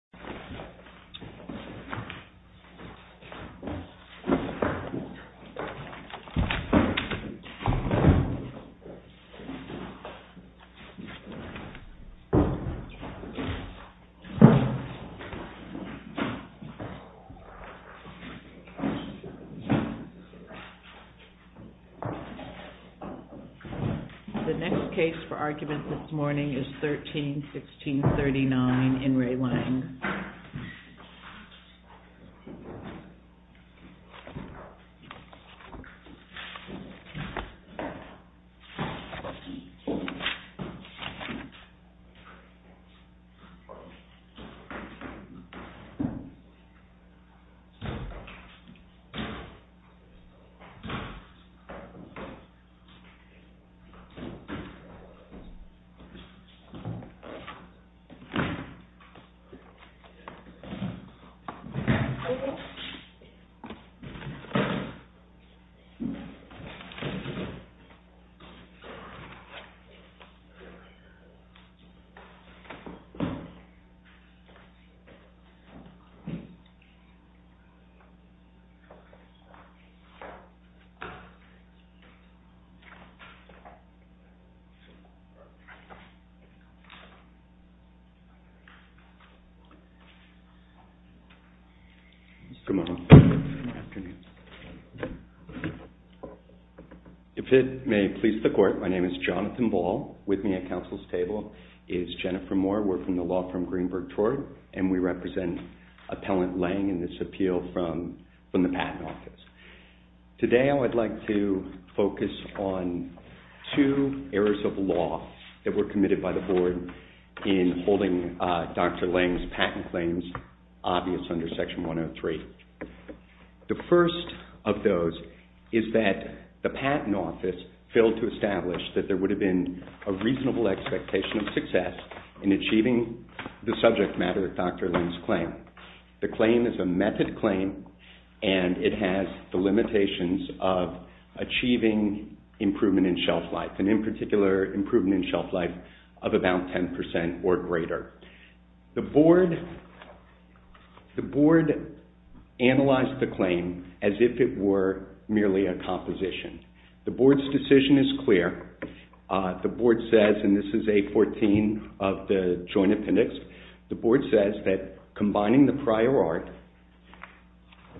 The Good morning. Good afternoon. If it may please the court, my name is Jonathan Ball. With me at Council's table is Jennifer Moore. We're from the law firm Greenberg Torte and we represent Appellant Lang in this appeal from the Patent Office. Today I would like to focus on two errors of law that were committed by the board in holding Dr. Lang's patent claims obvious under Section 103. The first of those is that the Patent Office failed to establish that there would have been a reasonable expectation of success in achieving the subject matter of Dr. Lang's claim. The claim is a method claim and it has the limitations of achieving improvement in shelf life and in particular improvement in shelf life of about 10% or greater. The board analyzed the claim as if it were merely a composition. The board's decision is clear. The board says, and this is 814 of the joint appendix, the board says that combining the prior art,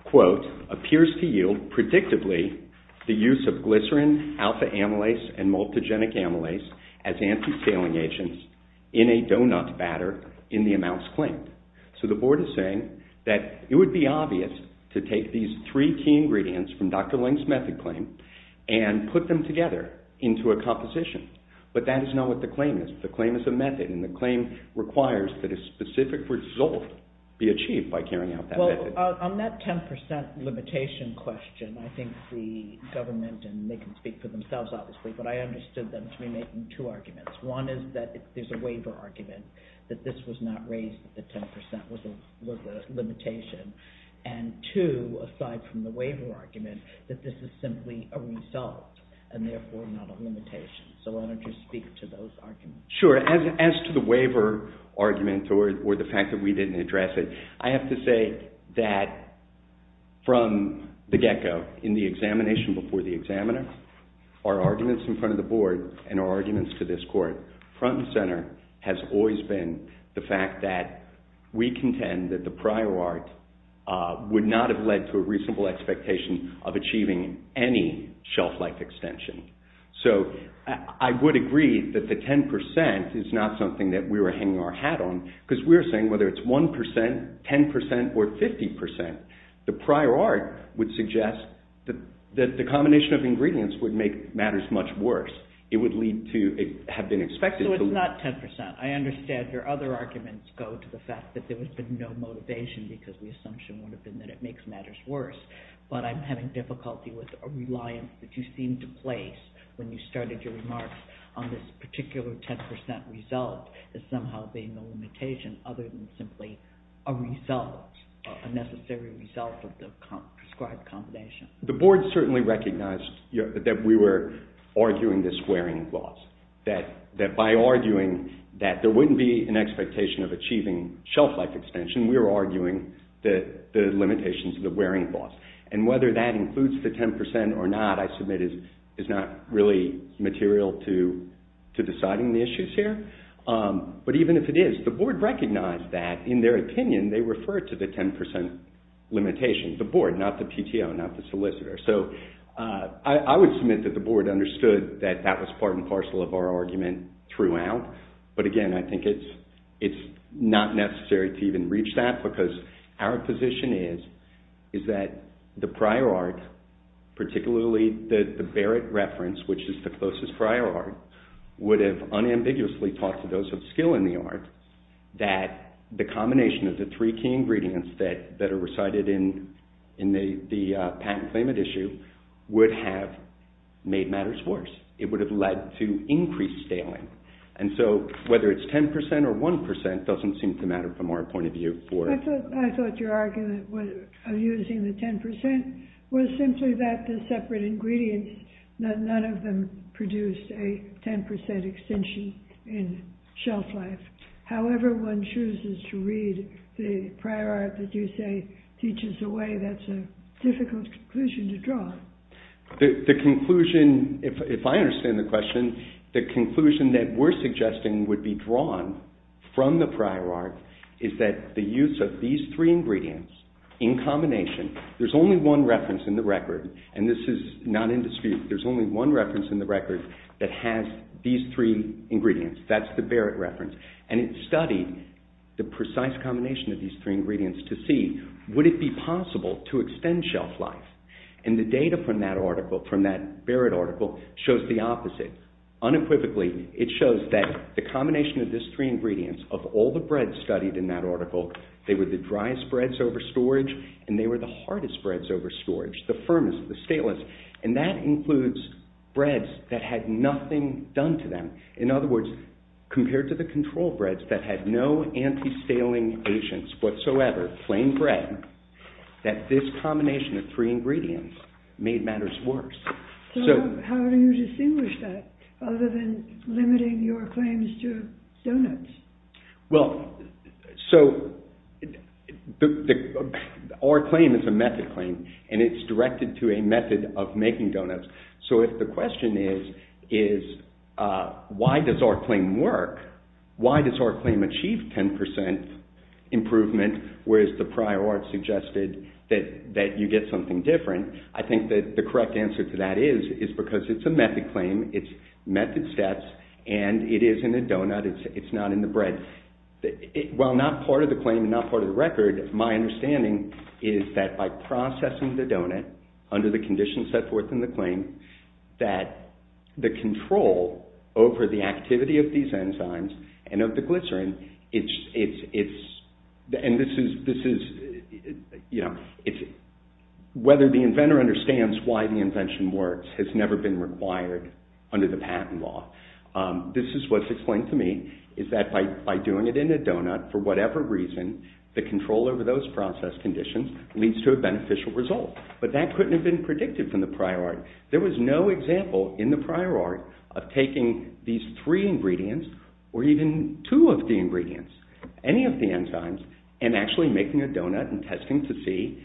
quote, appears to yield predictably the use of glycerin, alpha-amylase and multigenic amylase as anti-scaling agents in a doughnut batter in the amounts claimed. So the board is saying that it would be obvious to take these three key ingredients from Dr. Lang's method claim and put them together into a composition. But that is not what the claim is. The claim is a On that 10% limitation question, I think the government, and they can speak for themselves obviously, but I understood them to be making two arguments. One is that there's a waiver argument that this was not raised that the 10% was a limitation. And two, aside from the waiver argument, that this is simply a result and therefore not a limitation. So why don't you speak to those arguments? Sure. As to the waiver argument or the fact that we didn't address it, I have to say that from the get-go in the examination before the examiner, our arguments in front of the board and our arguments to this court, front and center, has always been the fact that we contend that the prior art would not have led to a reasonable expectation of achieving any shelf-life extension. So I would agree that the 10% is not something that we were hanging our 10%, 10% or 50%. The prior art would suggest that the combination of ingredients would make matters much worse. It would lead to have been expected. So it's not 10%. I understand your other arguments go to the fact that there has been no motivation because the assumption would have been that it makes matters worse. But I'm having difficulty with a reliance that you seem to place when you started your remarks on this particular 10% result that somehow being the limitation other than simply a result, a necessary result of the prescribed combination. The board certainly recognized that we were arguing this wearing loss. That by arguing that there wouldn't be an expectation of achieving shelf-life extension, we were arguing the limitations of the wearing loss. And whether that includes the 10% or not, I submit is not really material to deciding the issues here. But even if it is, the board recognized that in their opinion they referred to the 10% limitation, the board, not the PTO, not the solicitor. So I would submit that the board understood that that was part and parcel of our argument throughout. But again, I think it's not necessary to even reach that because our position is that the prior art, particularly the Barrett reference, which is the closest prior art, would have unambiguously taught to those of skill in the art that the combination of the three key ingredients that are recited in the patent claimant issue would have made matters worse. It would have led to increased staling. And so whether it's 10% or 1% doesn't seem to matter from our point of view. I thought your argument of using the 10% was simply that the separate ingredients, none of them produced a 10% extension in shelf-life. However, one chooses to read the prior art that you say teaches the way, that's a difficult conclusion to draw. The conclusion, if I understand the question, the conclusion that we're suggesting would be there's only one reference in the record, and this is not in dispute, there's only one reference in the record that has these three ingredients. That's the Barrett reference. And it studied the precise combination of these three ingredients to see would it be possible to extend shelf-life. And the data from that article, from that Barrett article, shows the opposite. Unequivocally, it shows that the combination of these three ingredients, of all the breads studied in that article, they were the hardest breads over storage, the firmest, the stalest. And that includes breads that had nothing done to them. In other words, compared to the control breads that had no anti-staling agents whatsoever, plain bread, that this combination of three ingredients made matters worse. So how do you distinguish that other than limiting your claims to doughnuts? Well, so our claim is a method claim, and it's directed to a method of making doughnuts. So if the question is, is why does our claim work? Why does our claim achieve 10% improvement, whereas the prior art suggested that you get something different? I think that the correct answer to that is, is because it's a method claim, it's method steps, and it is in a doughnut, it's not in the bread. While not part of the claim, not part of the record, my understanding is that by processing the doughnut under the conditions set forth in the claim, that the control over the activity of these enzymes and of the glycerin, and this is, you know, whether the inventor understands why the invention works has never been required under the patent law. This is what's explained to me, is that by doing it in a doughnut, for whatever reason, the control over those process conditions leads to a beneficial result. But that couldn't have been predicted from the prior art. There was no example in the prior art of taking these three ingredients, or even two of the ingredients, any of the enzymes, and actually making a doughnut and testing to see,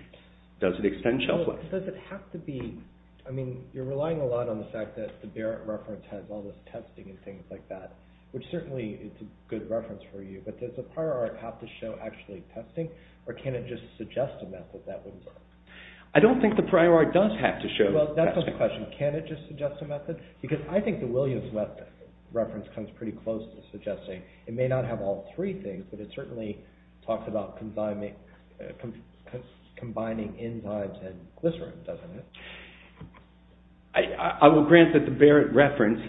does it extend shelf life? Does it have to be, I mean, you're relying a lot on the fact that the Barrett reference has all this testing and things like that, which certainly it's a good reference for you, but does the prior art have to show actually testing, or can it just suggest a method that will work? I don't think the prior art does have to show testing. Well, that's a good question. Can it just suggest a method? Because I think the Williams-Wesson reference comes pretty close to suggesting it may not have all three things, but it certainly talks about combining enzymes and glycerin, doesn't it? I will grant that the Barrett reference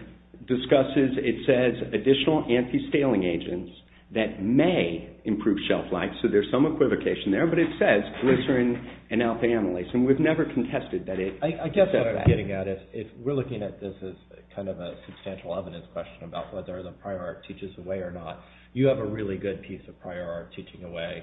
discusses, it says, additional anti-staling agents that may improve shelf life, so there's some equivocation there, but it says glycerin and alpha-amylase, and we've never contested that it does that. I guess what I'm getting at is, if we're looking at this as kind of a substantial evidence question about whether the prior art teaches the way or not, you have a really good piece of prior art teaching away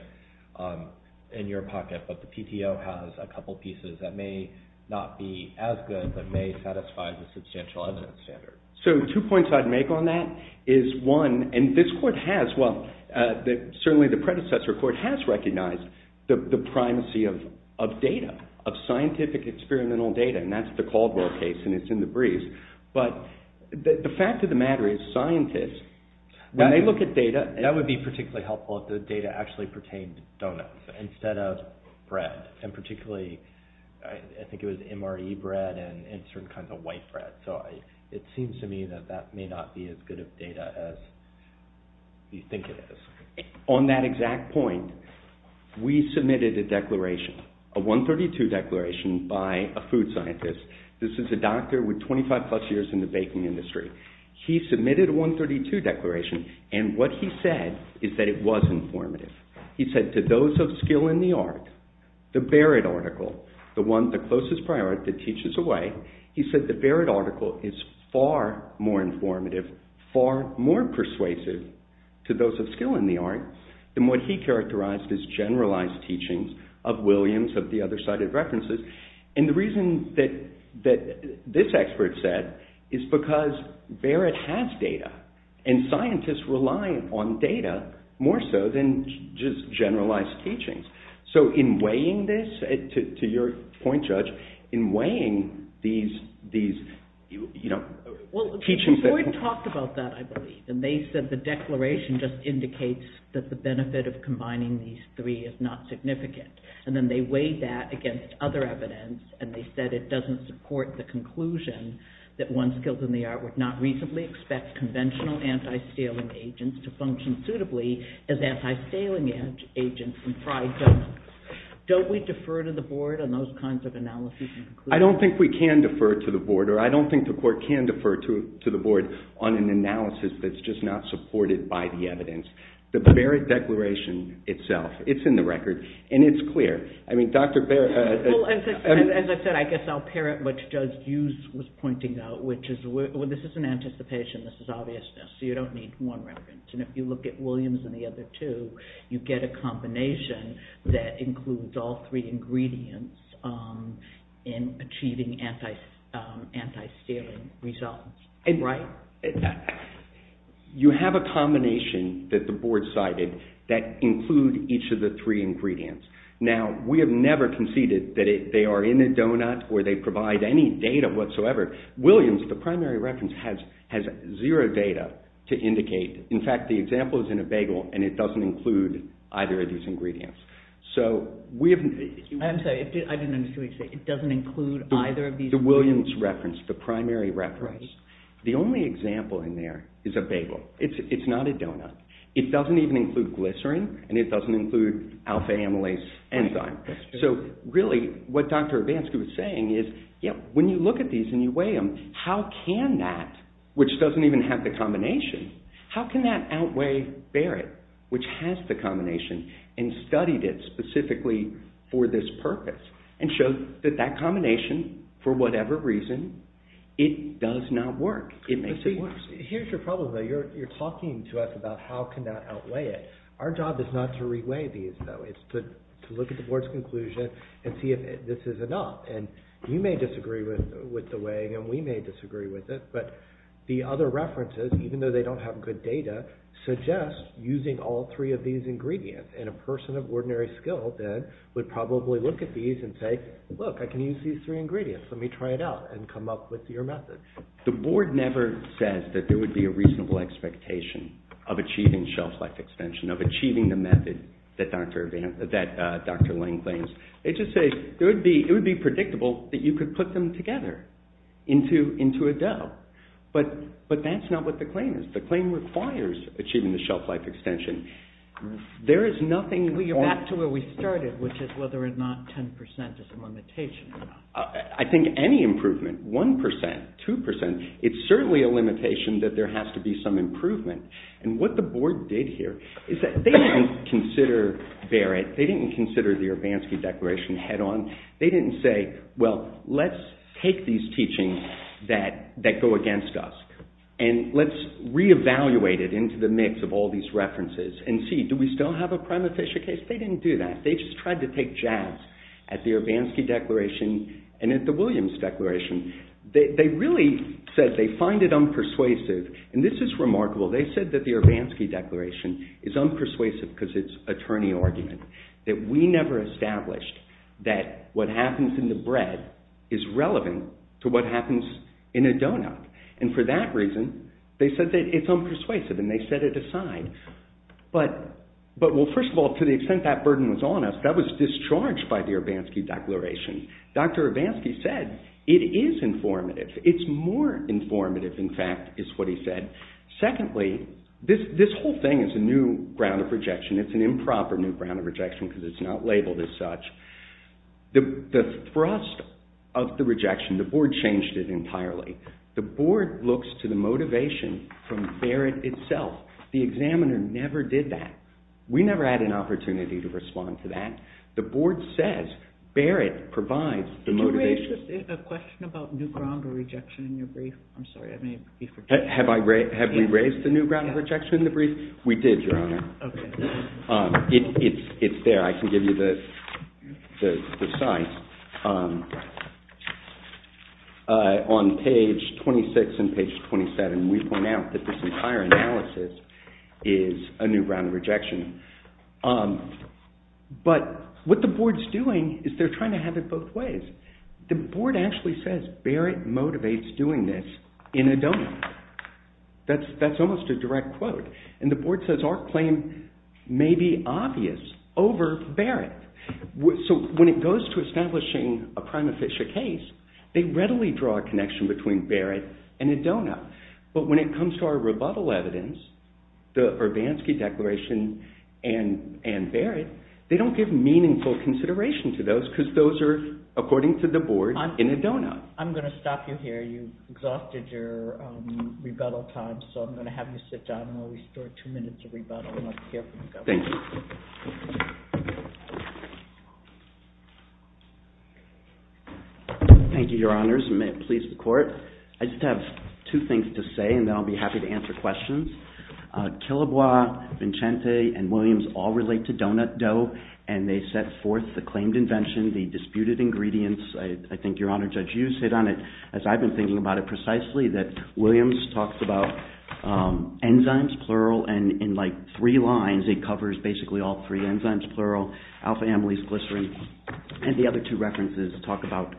in your pocket, but the PTO has a couple pieces that may not be as good, but may satisfy the substantial evidence standard. So, two points I'd make on that is, one, and this court has, well, certainly the predecessor court has recognized the primacy of data, of scientific experimental data, and that's the Caldwell case, and it's in But the fact of the matter is, scientists, when they look at data... That would be particularly helpful if the data actually pertained to donuts instead of bread, and particularly, I think it was MRE bread and certain kinds of white bread, so it seems to me that that may not be as good of data as you think it is. On that exact point, we submitted a 132 declaration by a food scientist. This is a doctor with 25 plus years in the baking industry. He submitted a 132 declaration, and what he said is that it was informative. He said, to those of skill in the art, the Barrett article, the closest prior art that teaches away, he said the Barrett article is far more informative, far more persuasive to those of skill in the art than what he characterized as generalized teachings of Williams, of the other cited references, and the reason that this expert said is because Barrett has data, and scientists rely on data more so than just generalized teachings, so in weighing this, to your point, Judge, in weighing these, you know, teachings... The board talked about that, I believe, and they said the declaration just indicates that the benefit of combining these three is not significant, and then they weighed that against other evidence, and they said it doesn't support the conclusion that one skilled in the art would not reasonably expect conventional anti-staling agents to function suitably as anti-staling agents in fried donuts. Don't we defer to the board on those kinds of analyses? I don't think we can defer to the board, or I don't think the court can defer to the board on an analysis that's just not supported by the evidence. The Barrett declaration itself, it's in the record, and it's clear. I mean, Dr. Barrett... Well, as I said, I guess I'll parrot what Judge Hughes was pointing out, which is this is an anticipation, this is obviousness, so you don't need one record, and if you look at Williams and the other two, you get a combination that includes all three ingredients in achieving anti-staling results, right? You have a combination that the board cited that include each of the three ingredients. Now, we have never conceded that they are in a donut or they provide any data whatsoever. Williams, the primary reference, has zero data to indicate. In fact, the example is in a bagel, and it doesn't include either of these ingredients. So, we have... I'm sorry, I didn't understand what you were saying. It doesn't include either of these... The Williams reference, the primary reference. The only example in there is a bagel. It's not a donut. It doesn't even include glycerin, and it doesn't include alpha-amylase enzyme. So, really, what Dr. Urbanski was saying is when you look at these and you weigh them, how can that, which doesn't even have the combination, how can that outweigh Barrett, which has the combination, and studied it specifically for this purpose and showed that that combination, for whatever reason, it does not work. It makes it worse. Here's your problem, though. You're talking to us about how can that outweigh it. Our job is not to re-weigh these, though. It's to look at the board's conclusion and see if this is enough. And you may disagree with the weighing, and we may disagree with it, but the other references, even though they don't have good data, suggest using all of these ingredients. And a person of ordinary skill, then, would probably look at these and say, look, I can use these three ingredients. Let me try it out and come up with your method. The board never says that there would be a reasonable expectation of achieving shelf-life extension, of achieving the method that Dr. Lang claims. They just say it would be predictable that you could put them together into a dough. But that's not what the claim is. The claim requires achieving the shelf-life extension. There is nothing... Well, you're back to where we started, which is whether or not 10% is a limitation. I think any improvement, 1%, 2%, it's certainly a limitation that there has to be some improvement. And what the board did here is that they didn't consider Barrett. They didn't consider the Urbanski Declaration head-on. They didn't say, well, let's take these teachings that go against us and let's reevaluate it into the mix of all these references and see, do we still have a prima facie case? They didn't do that. They just tried to take jabs at the Urbanski Declaration and at the Williams Declaration. They really said they find it unpersuasive. And this is remarkable. They said that the Urbanski Declaration is unpersuasive because it's attorney argument, that we never established that what happens in the bread is relevant to what happens in a donut. And for that reason, they said that it's unpersuasive and they set it aside. But, well, first of all, to the extent that burden was on us, that was discharged by the Urbanski Declaration. Dr. Urbanski said it is informative. It's more informative, in fact, is what he said. Secondly, this whole thing is a new ground of rejection. It's an improper new ground of rejection because it's not labeled as such. The thrust of the rejection, the board changed it entirely. The board looks to the motivation from Barrett itself. The examiner never did that. We never had an opportunity to respond to that. The board says Barrett provides the motivation. Did you raise a question about new ground of rejection in your brief? I'm sorry, I may be forgetting. Have we raised the new ground of rejection in the brief? We did, Your Honor. It's there. I can give you the site. On page 26 and page 27, we point out that this entire analysis is a new ground of rejection. But what the board's doing is they're trying to have it both ways. The board actually says Barrett motivates doing this in a donut. That's almost a direct quote. The board says our claim may be obvious over Barrett. When it goes to establishing a prima ficia case, they readily draw a connection between Barrett and a donut. But when it comes to our rebuttal evidence, the Urbanski declaration and Barrett, they don't give meaningful consideration to those because those are, according to the board, in a donut. I'm going to stop you here. You've exhausted your rebuttal time, so I'm going to have you sit down and we'll restore two minutes of rebuttal. Thank you. Thank you, Your Honors. May it please the court. I just have two things to say and then I'll be happy to answer questions. Killebois, Vincente, and Williams all relate to donut dough and they set forth the claimed invention, the disputed ingredients. I think, Your Honor, Judge Hughes said on it, as I've been thinking about it precisely, that Williams talks about enzymes, plural, and in like three lines it covers basically all three enzymes, plural, alpha-amylase, glycerin, and the other two references talk about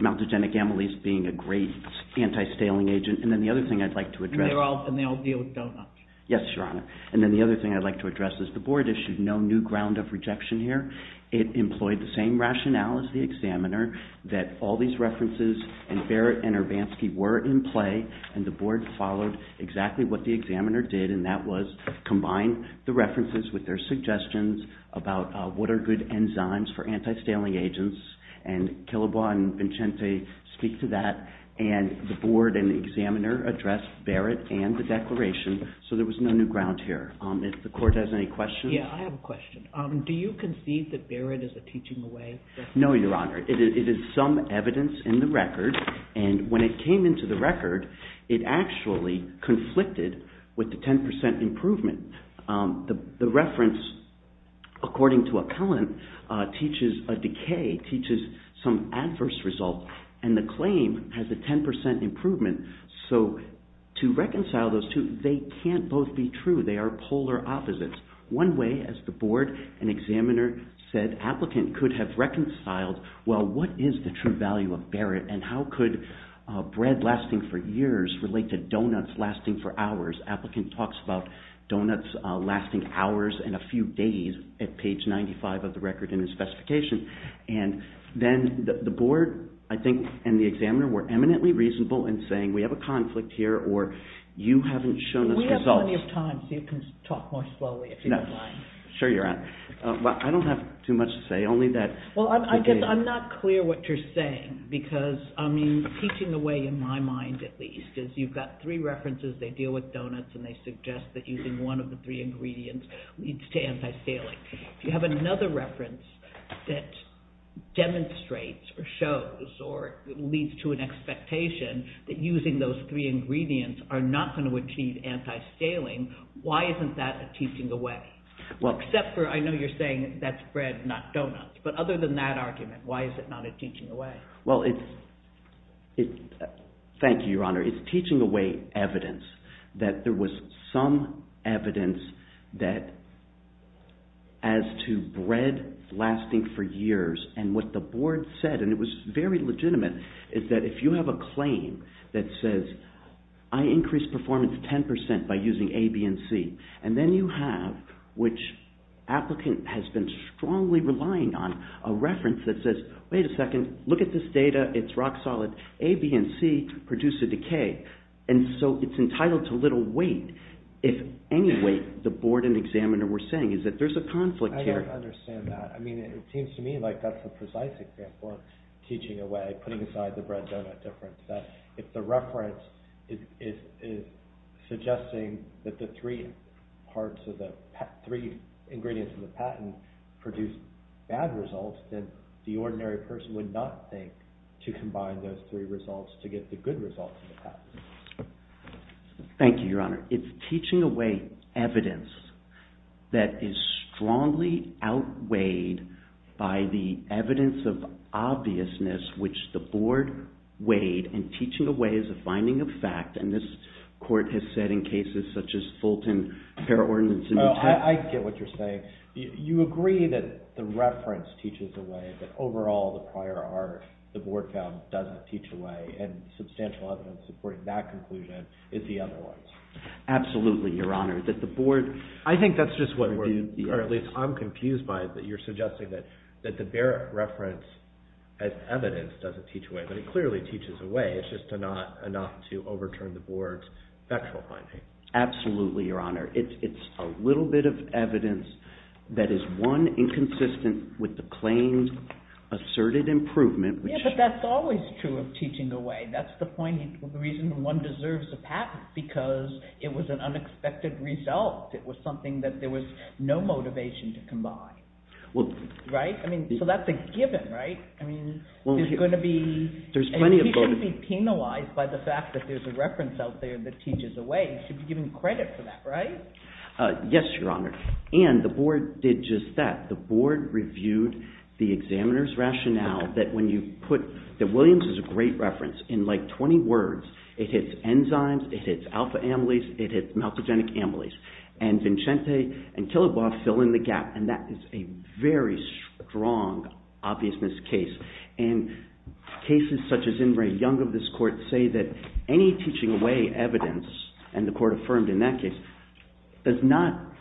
maltogenic amylase being a great anti-staling agent. And then the other thing I'd like to address. And they all deal with donuts. Yes, Your Honor. And then the other thing I'd like to address is the board issued no new ground of rejection here. It employed the same rationale as the examiner that all these references and Barrett and Urbanski were in play and the board followed exactly what the examiner did and that was combine the references with their suggestions about what are good enzymes for anti-staling agents. And Killebois and Vincente speak to that and the board and the examiner addressed Barrett and the declaration. So there was no new ground here. If the court has any questions. Yeah, I have a question. Do you concede that Barrett is a teaching away? No, Your Honor. It is some evidence in the record and when it came into the record it actually conflicted with the 10% improvement. The reference according to appellant teaches a decay, teaches some adverse result and the claim has a 10% improvement. So to reconcile those two, they can't both be true. They are polar opposites. One way as the board and examiner said applicant could have reconciled well what is the true value of Barrett and how could bread lasting for years relate to doughnuts lasting for hours. Applicant talks about doughnuts lasting hours and a few days at page 95 of the record in his specification. And then the board, I think, and the examiner were eminently reasonable in saying we have a conflict here or you haven't shown us results. We have plenty of time so you can talk more slowly. Sure, Your Honor. I don't have too much to say only that. Well, I guess I'm not clear what you're saying because I mean teaching away in my mind at least is you've got three references. They deal with doughnuts and they suggest that using one of the three ingredients leads to anti-scaling. If you have another reference that demonstrates or shows or leads to an expectation that using those three ingredients are not going to achieve anti-scaling, why isn't that a teaching away? Well, except for I know you're saying that's bread not doughnuts. But other than that argument, why is it not a teaching away? Well, thank you, Your Honor. It's teaching away evidence that there was some evidence that as to bread lasting for years and what the board said and it was very legitimate is that if you have a claim that says I increased performance 10% by using A, B, and C and then you have which applicant has been strongly relying on a reference that says wait a second look at this data it's rock-solid A, B, and C produce a decay and so it's entitled to little weight if any weight the board and examiner were saying is that there's a teaching away putting aside the bread doughnut difference that if the reference is suggesting that the three parts of the three ingredients in the patent produce bad results that the ordinary person would not think to combine those three results to get the good results. Thank you, Your Honor. It's teaching away evidence that is strongly outweighed by the obviousness which the board weighed and teaching away is a finding of fact and this court has said in cases such as Fulton, Pair Ordinance and New Tech. Oh, I get what you're saying. You agree that the reference teaches away but overall the prior art the board found doesn't teach away and substantial evidence supporting that conclusion is the other ones. Absolutely, Your Honor, that the board. I think that's just what we're doing or at least I'm referring as evidence doesn't teach away but it clearly teaches away. It's just not enough to overturn the board's factual finding. Absolutely, Your Honor. It's a little bit of evidence that is one inconsistent with the claims asserted improvement. Yeah, but that's always true of teaching away. That's the point of the reason one deserves a patent because it was an unexpected result. It was something that there was no motivation to combine, right? I mean, so that's a given, right? I mean, there's going to be. There's plenty of. He shouldn't be penalized by the fact that there's a reference out there that teaches away. He should be given credit for that, right? Yes, Your Honor and the board did just that. The board reviewed the examiner's rationale that when you put that Williams is a great reference in like 20 words, it hits enzymes, it hits alpha amylase, it hits multigenic amylase and Vincente and Killebaugh fill in the gap and that is a very strong obviousness case and cases such as Ingray Young of this court say that any teaching away evidence and the court affirmed in that case does not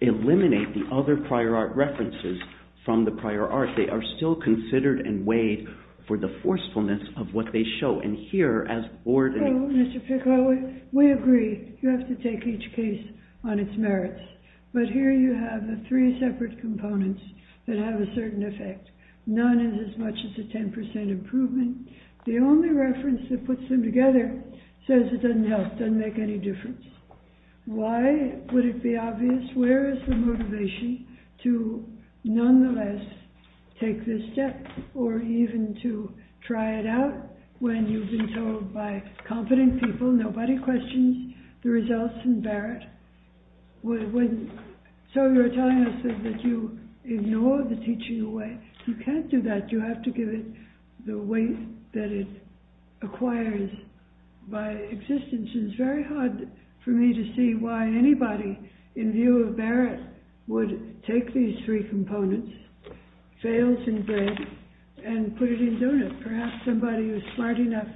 eliminate the other prior art references from the prior art. They are still considered and weighed for the forcefulness of what they show and hear as board. Mr. Piccolo, we agree you have to take each case on its merits, but here you have the three separate components that have a certain effect. None is as much as a 10% improvement. The only reference that puts them together says it doesn't help, doesn't make any difference. Why would it be obvious? Where is the motivation to nonetheless take this step or even to try it when you've been told by confident people nobody questions the results in Barrett? So you're telling us that you ignore the teaching away. You can't do that. You have to give it the weight that it acquires by existence. It's very hard for me to see why anybody in view of Barrett would take these three components, fails in breadth and put it in a case where you're smart enough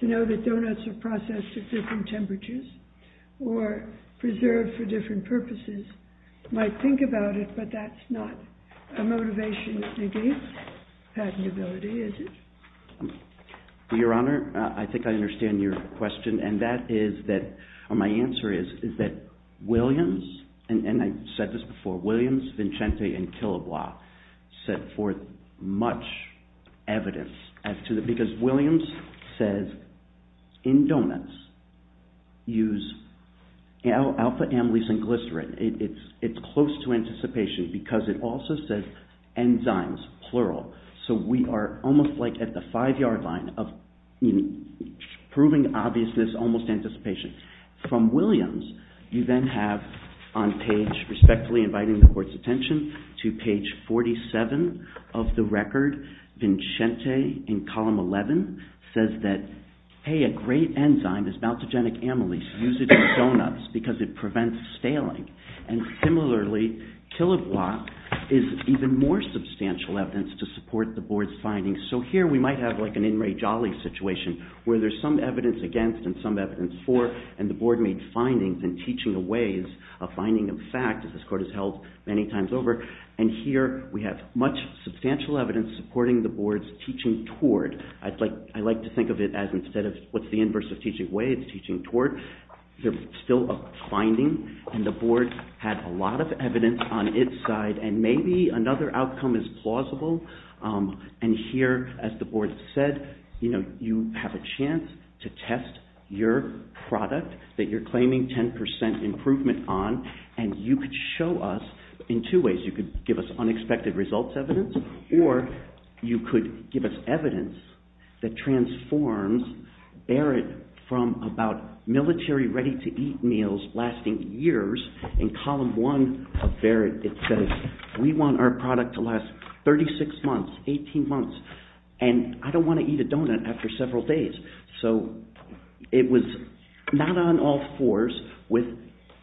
to know that doughnuts are processed at different temperatures or preserved for different purposes, might think about it, but that's not a motivation that negates patentability, is it? Your Honor, I think I understand your question and that is that my answer is that Williams, and I said this before, Williams, Vincente, and Killebois set forth much evidence because Williams says in doughnuts use alpha-amylase and glycerin. It's close to anticipation because it also says enzymes, plural, so we are almost like at the five-yard line of proving obviousness almost anticipation. From Williams, you then have on page, respectfully inviting the Court's attention, to page 47 of the record, Vincente in column 11 says that, hey, a great enzyme is maltogenic amylase. Use it in doughnuts because it prevents staling. And similarly, Killebois is even more substantial evidence to support the Board's findings. So here we might have like an in re jolly situation where there's some findings in teaching a ways, a finding of fact, as this Court has held many times over, and here we have much substantial evidence supporting the Board's teaching toward. I'd like to think of it as instead of what's the inverse of teaching way, it's teaching toward. There's still a finding and the Board had a lot of evidence on its side and maybe another outcome is plausible. And here, as the Board said, you have a chance to test your product that you're claiming 10% improvement on and you could show us in two ways. You could give us unexpected results evidence or you could give us evidence that transforms Barrett from about military ready-to-eat meals lasting years. In I don't want to eat a doughnut after several days. So it was not on all fours with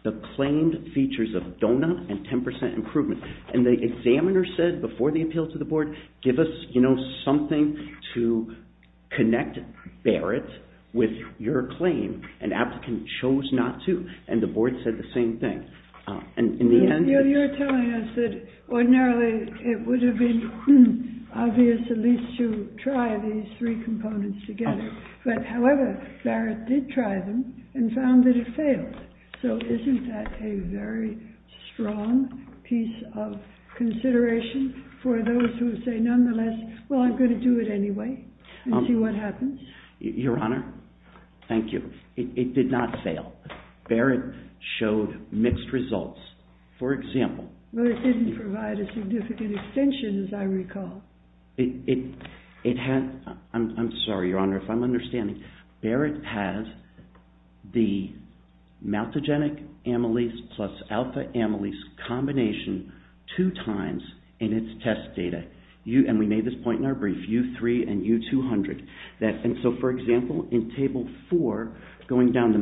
the claimed features of doughnut and 10% improvement. And the examiner said before the appeal to the Board, give us, you know, something to connect Barrett with your claim and applicant chose not to. And the Board said the same thing. And in the end... You're telling us that ordinarily it would have obvious at least to try these three components together. But however, Barrett did try them and found that it failed. So isn't that a very strong piece of consideration for those who say nonetheless, well, I'm going to do it anyway and see what happens? Your Honor, thank you. It did not fail. Barrett showed mixed results. For example... But it didn't provide a significant extension as I recall. It had... I'm sorry, Your Honor, if I'm understanding, Barrett has the maltogenic amylase plus alpha amylase combination two times in its test data. And we made this point in our brief, U3 and U200. And so for example, in table four, going down the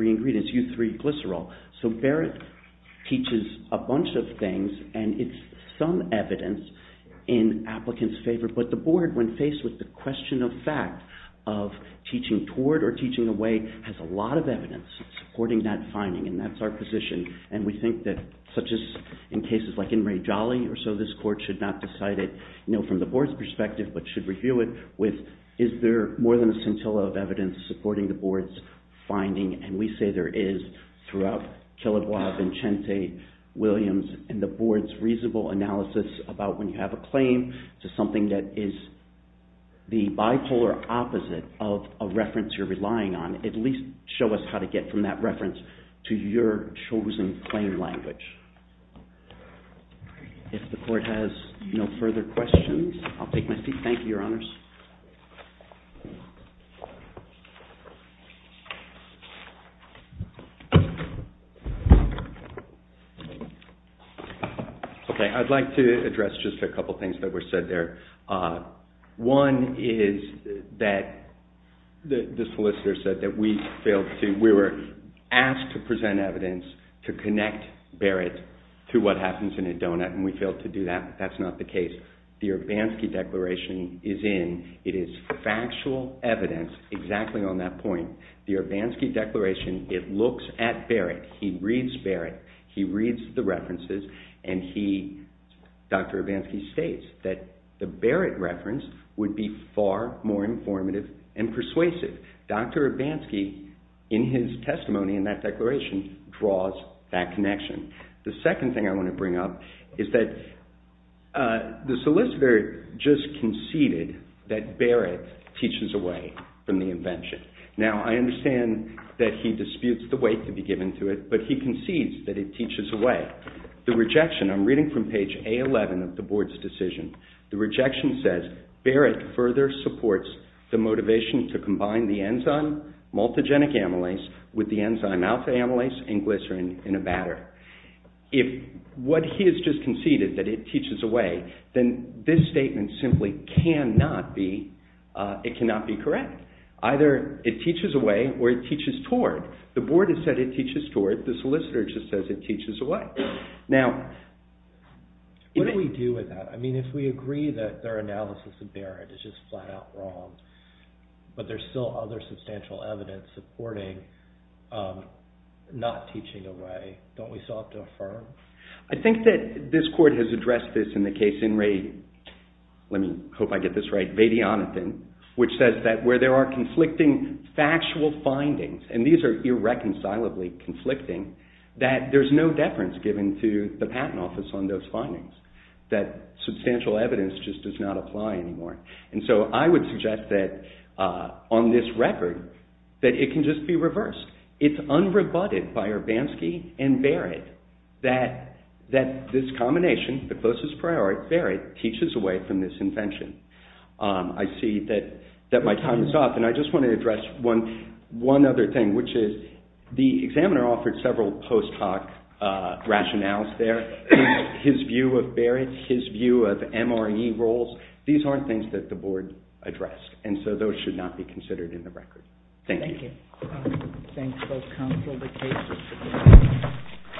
ingredients, U3 glycerol. So Barrett teaches a bunch of things and it's some evidence in applicant's favor. But the Board, when faced with the question of fact of teaching toward or teaching away, has a lot of evidence supporting that finding. And that's our position. And we think that such as in cases like in Ray Jolly or so, this Court should not decide it, you know, from the Board's perspective, but should review it with is there more than a scintilla of evidence supporting the Board's finding. And we say there is throughout Killebois, Vincente, Williams, and the Board's reasonable analysis about when you have a claim to something that is the bipolar opposite of a reference you're relying on. At least show us how to get from that reference to your chosen claim language. If the Court has no further questions, I'll take my seat. Thank you, Your Honors. Okay. I'd like to address just a couple things that were said there. One is that the solicitor said that we failed to, we were asked to present evidence to connect Barrett to what happens in a donut and we failed to do that. That's not the case. The Urbanski Declaration is in, it is factual evidence exactly on that point. The Urbanski Declaration, it looks at Barrett, he reads Barrett, he reads the references, and he, Dr. Urbanski states that the Barrett reference would be far more informative and persuasive. Dr. Urbanski in his testimony in that declaration draws that connection. The second thing I want to bring up is that the solicitor just conceded that Barrett teaches away from the invention. Now, I understand that he disputes the weight to be given to it, but he concedes that it teaches away. The rejection, I'm reading from page A11 of the Board's decision, the rejection says Barrett further supports the motivation to in a batter. If what he has just conceded that it teaches away, then this statement simply cannot be, it cannot be correct. Either it teaches away or it teaches toward. The Board has said it teaches toward, the solicitor just says it teaches away. Now... What do we do with that? I mean, if we agree that their analysis of Barrett is just flat out wrong, but there's still other substantial evidence supporting not teaching away, don't we still have to affirm? I think that this court has addressed this in the case in Ray, let me hope I get this right, Vedianathan, which says that where there are conflicting factual findings, and these are irreconcilably conflicting, that there's no deference given to the Patent Office on those findings. That substantial evidence just does not apply anymore. And so I would suggest that on this record, that it can just be reversed. It's unrebutted by Urbanski and Barrett that this combination, the closest priority, Barrett, teaches away from this invention. I see that my time is up, and I just want to address one other thing, which is the examiner offered several post hoc rationales there. His view of Barrett, his view of MRE roles, these aren't things that the board addressed, and so those should not be considered in the record. Thank you. Thank you. Thanks both counsel, the case is closed.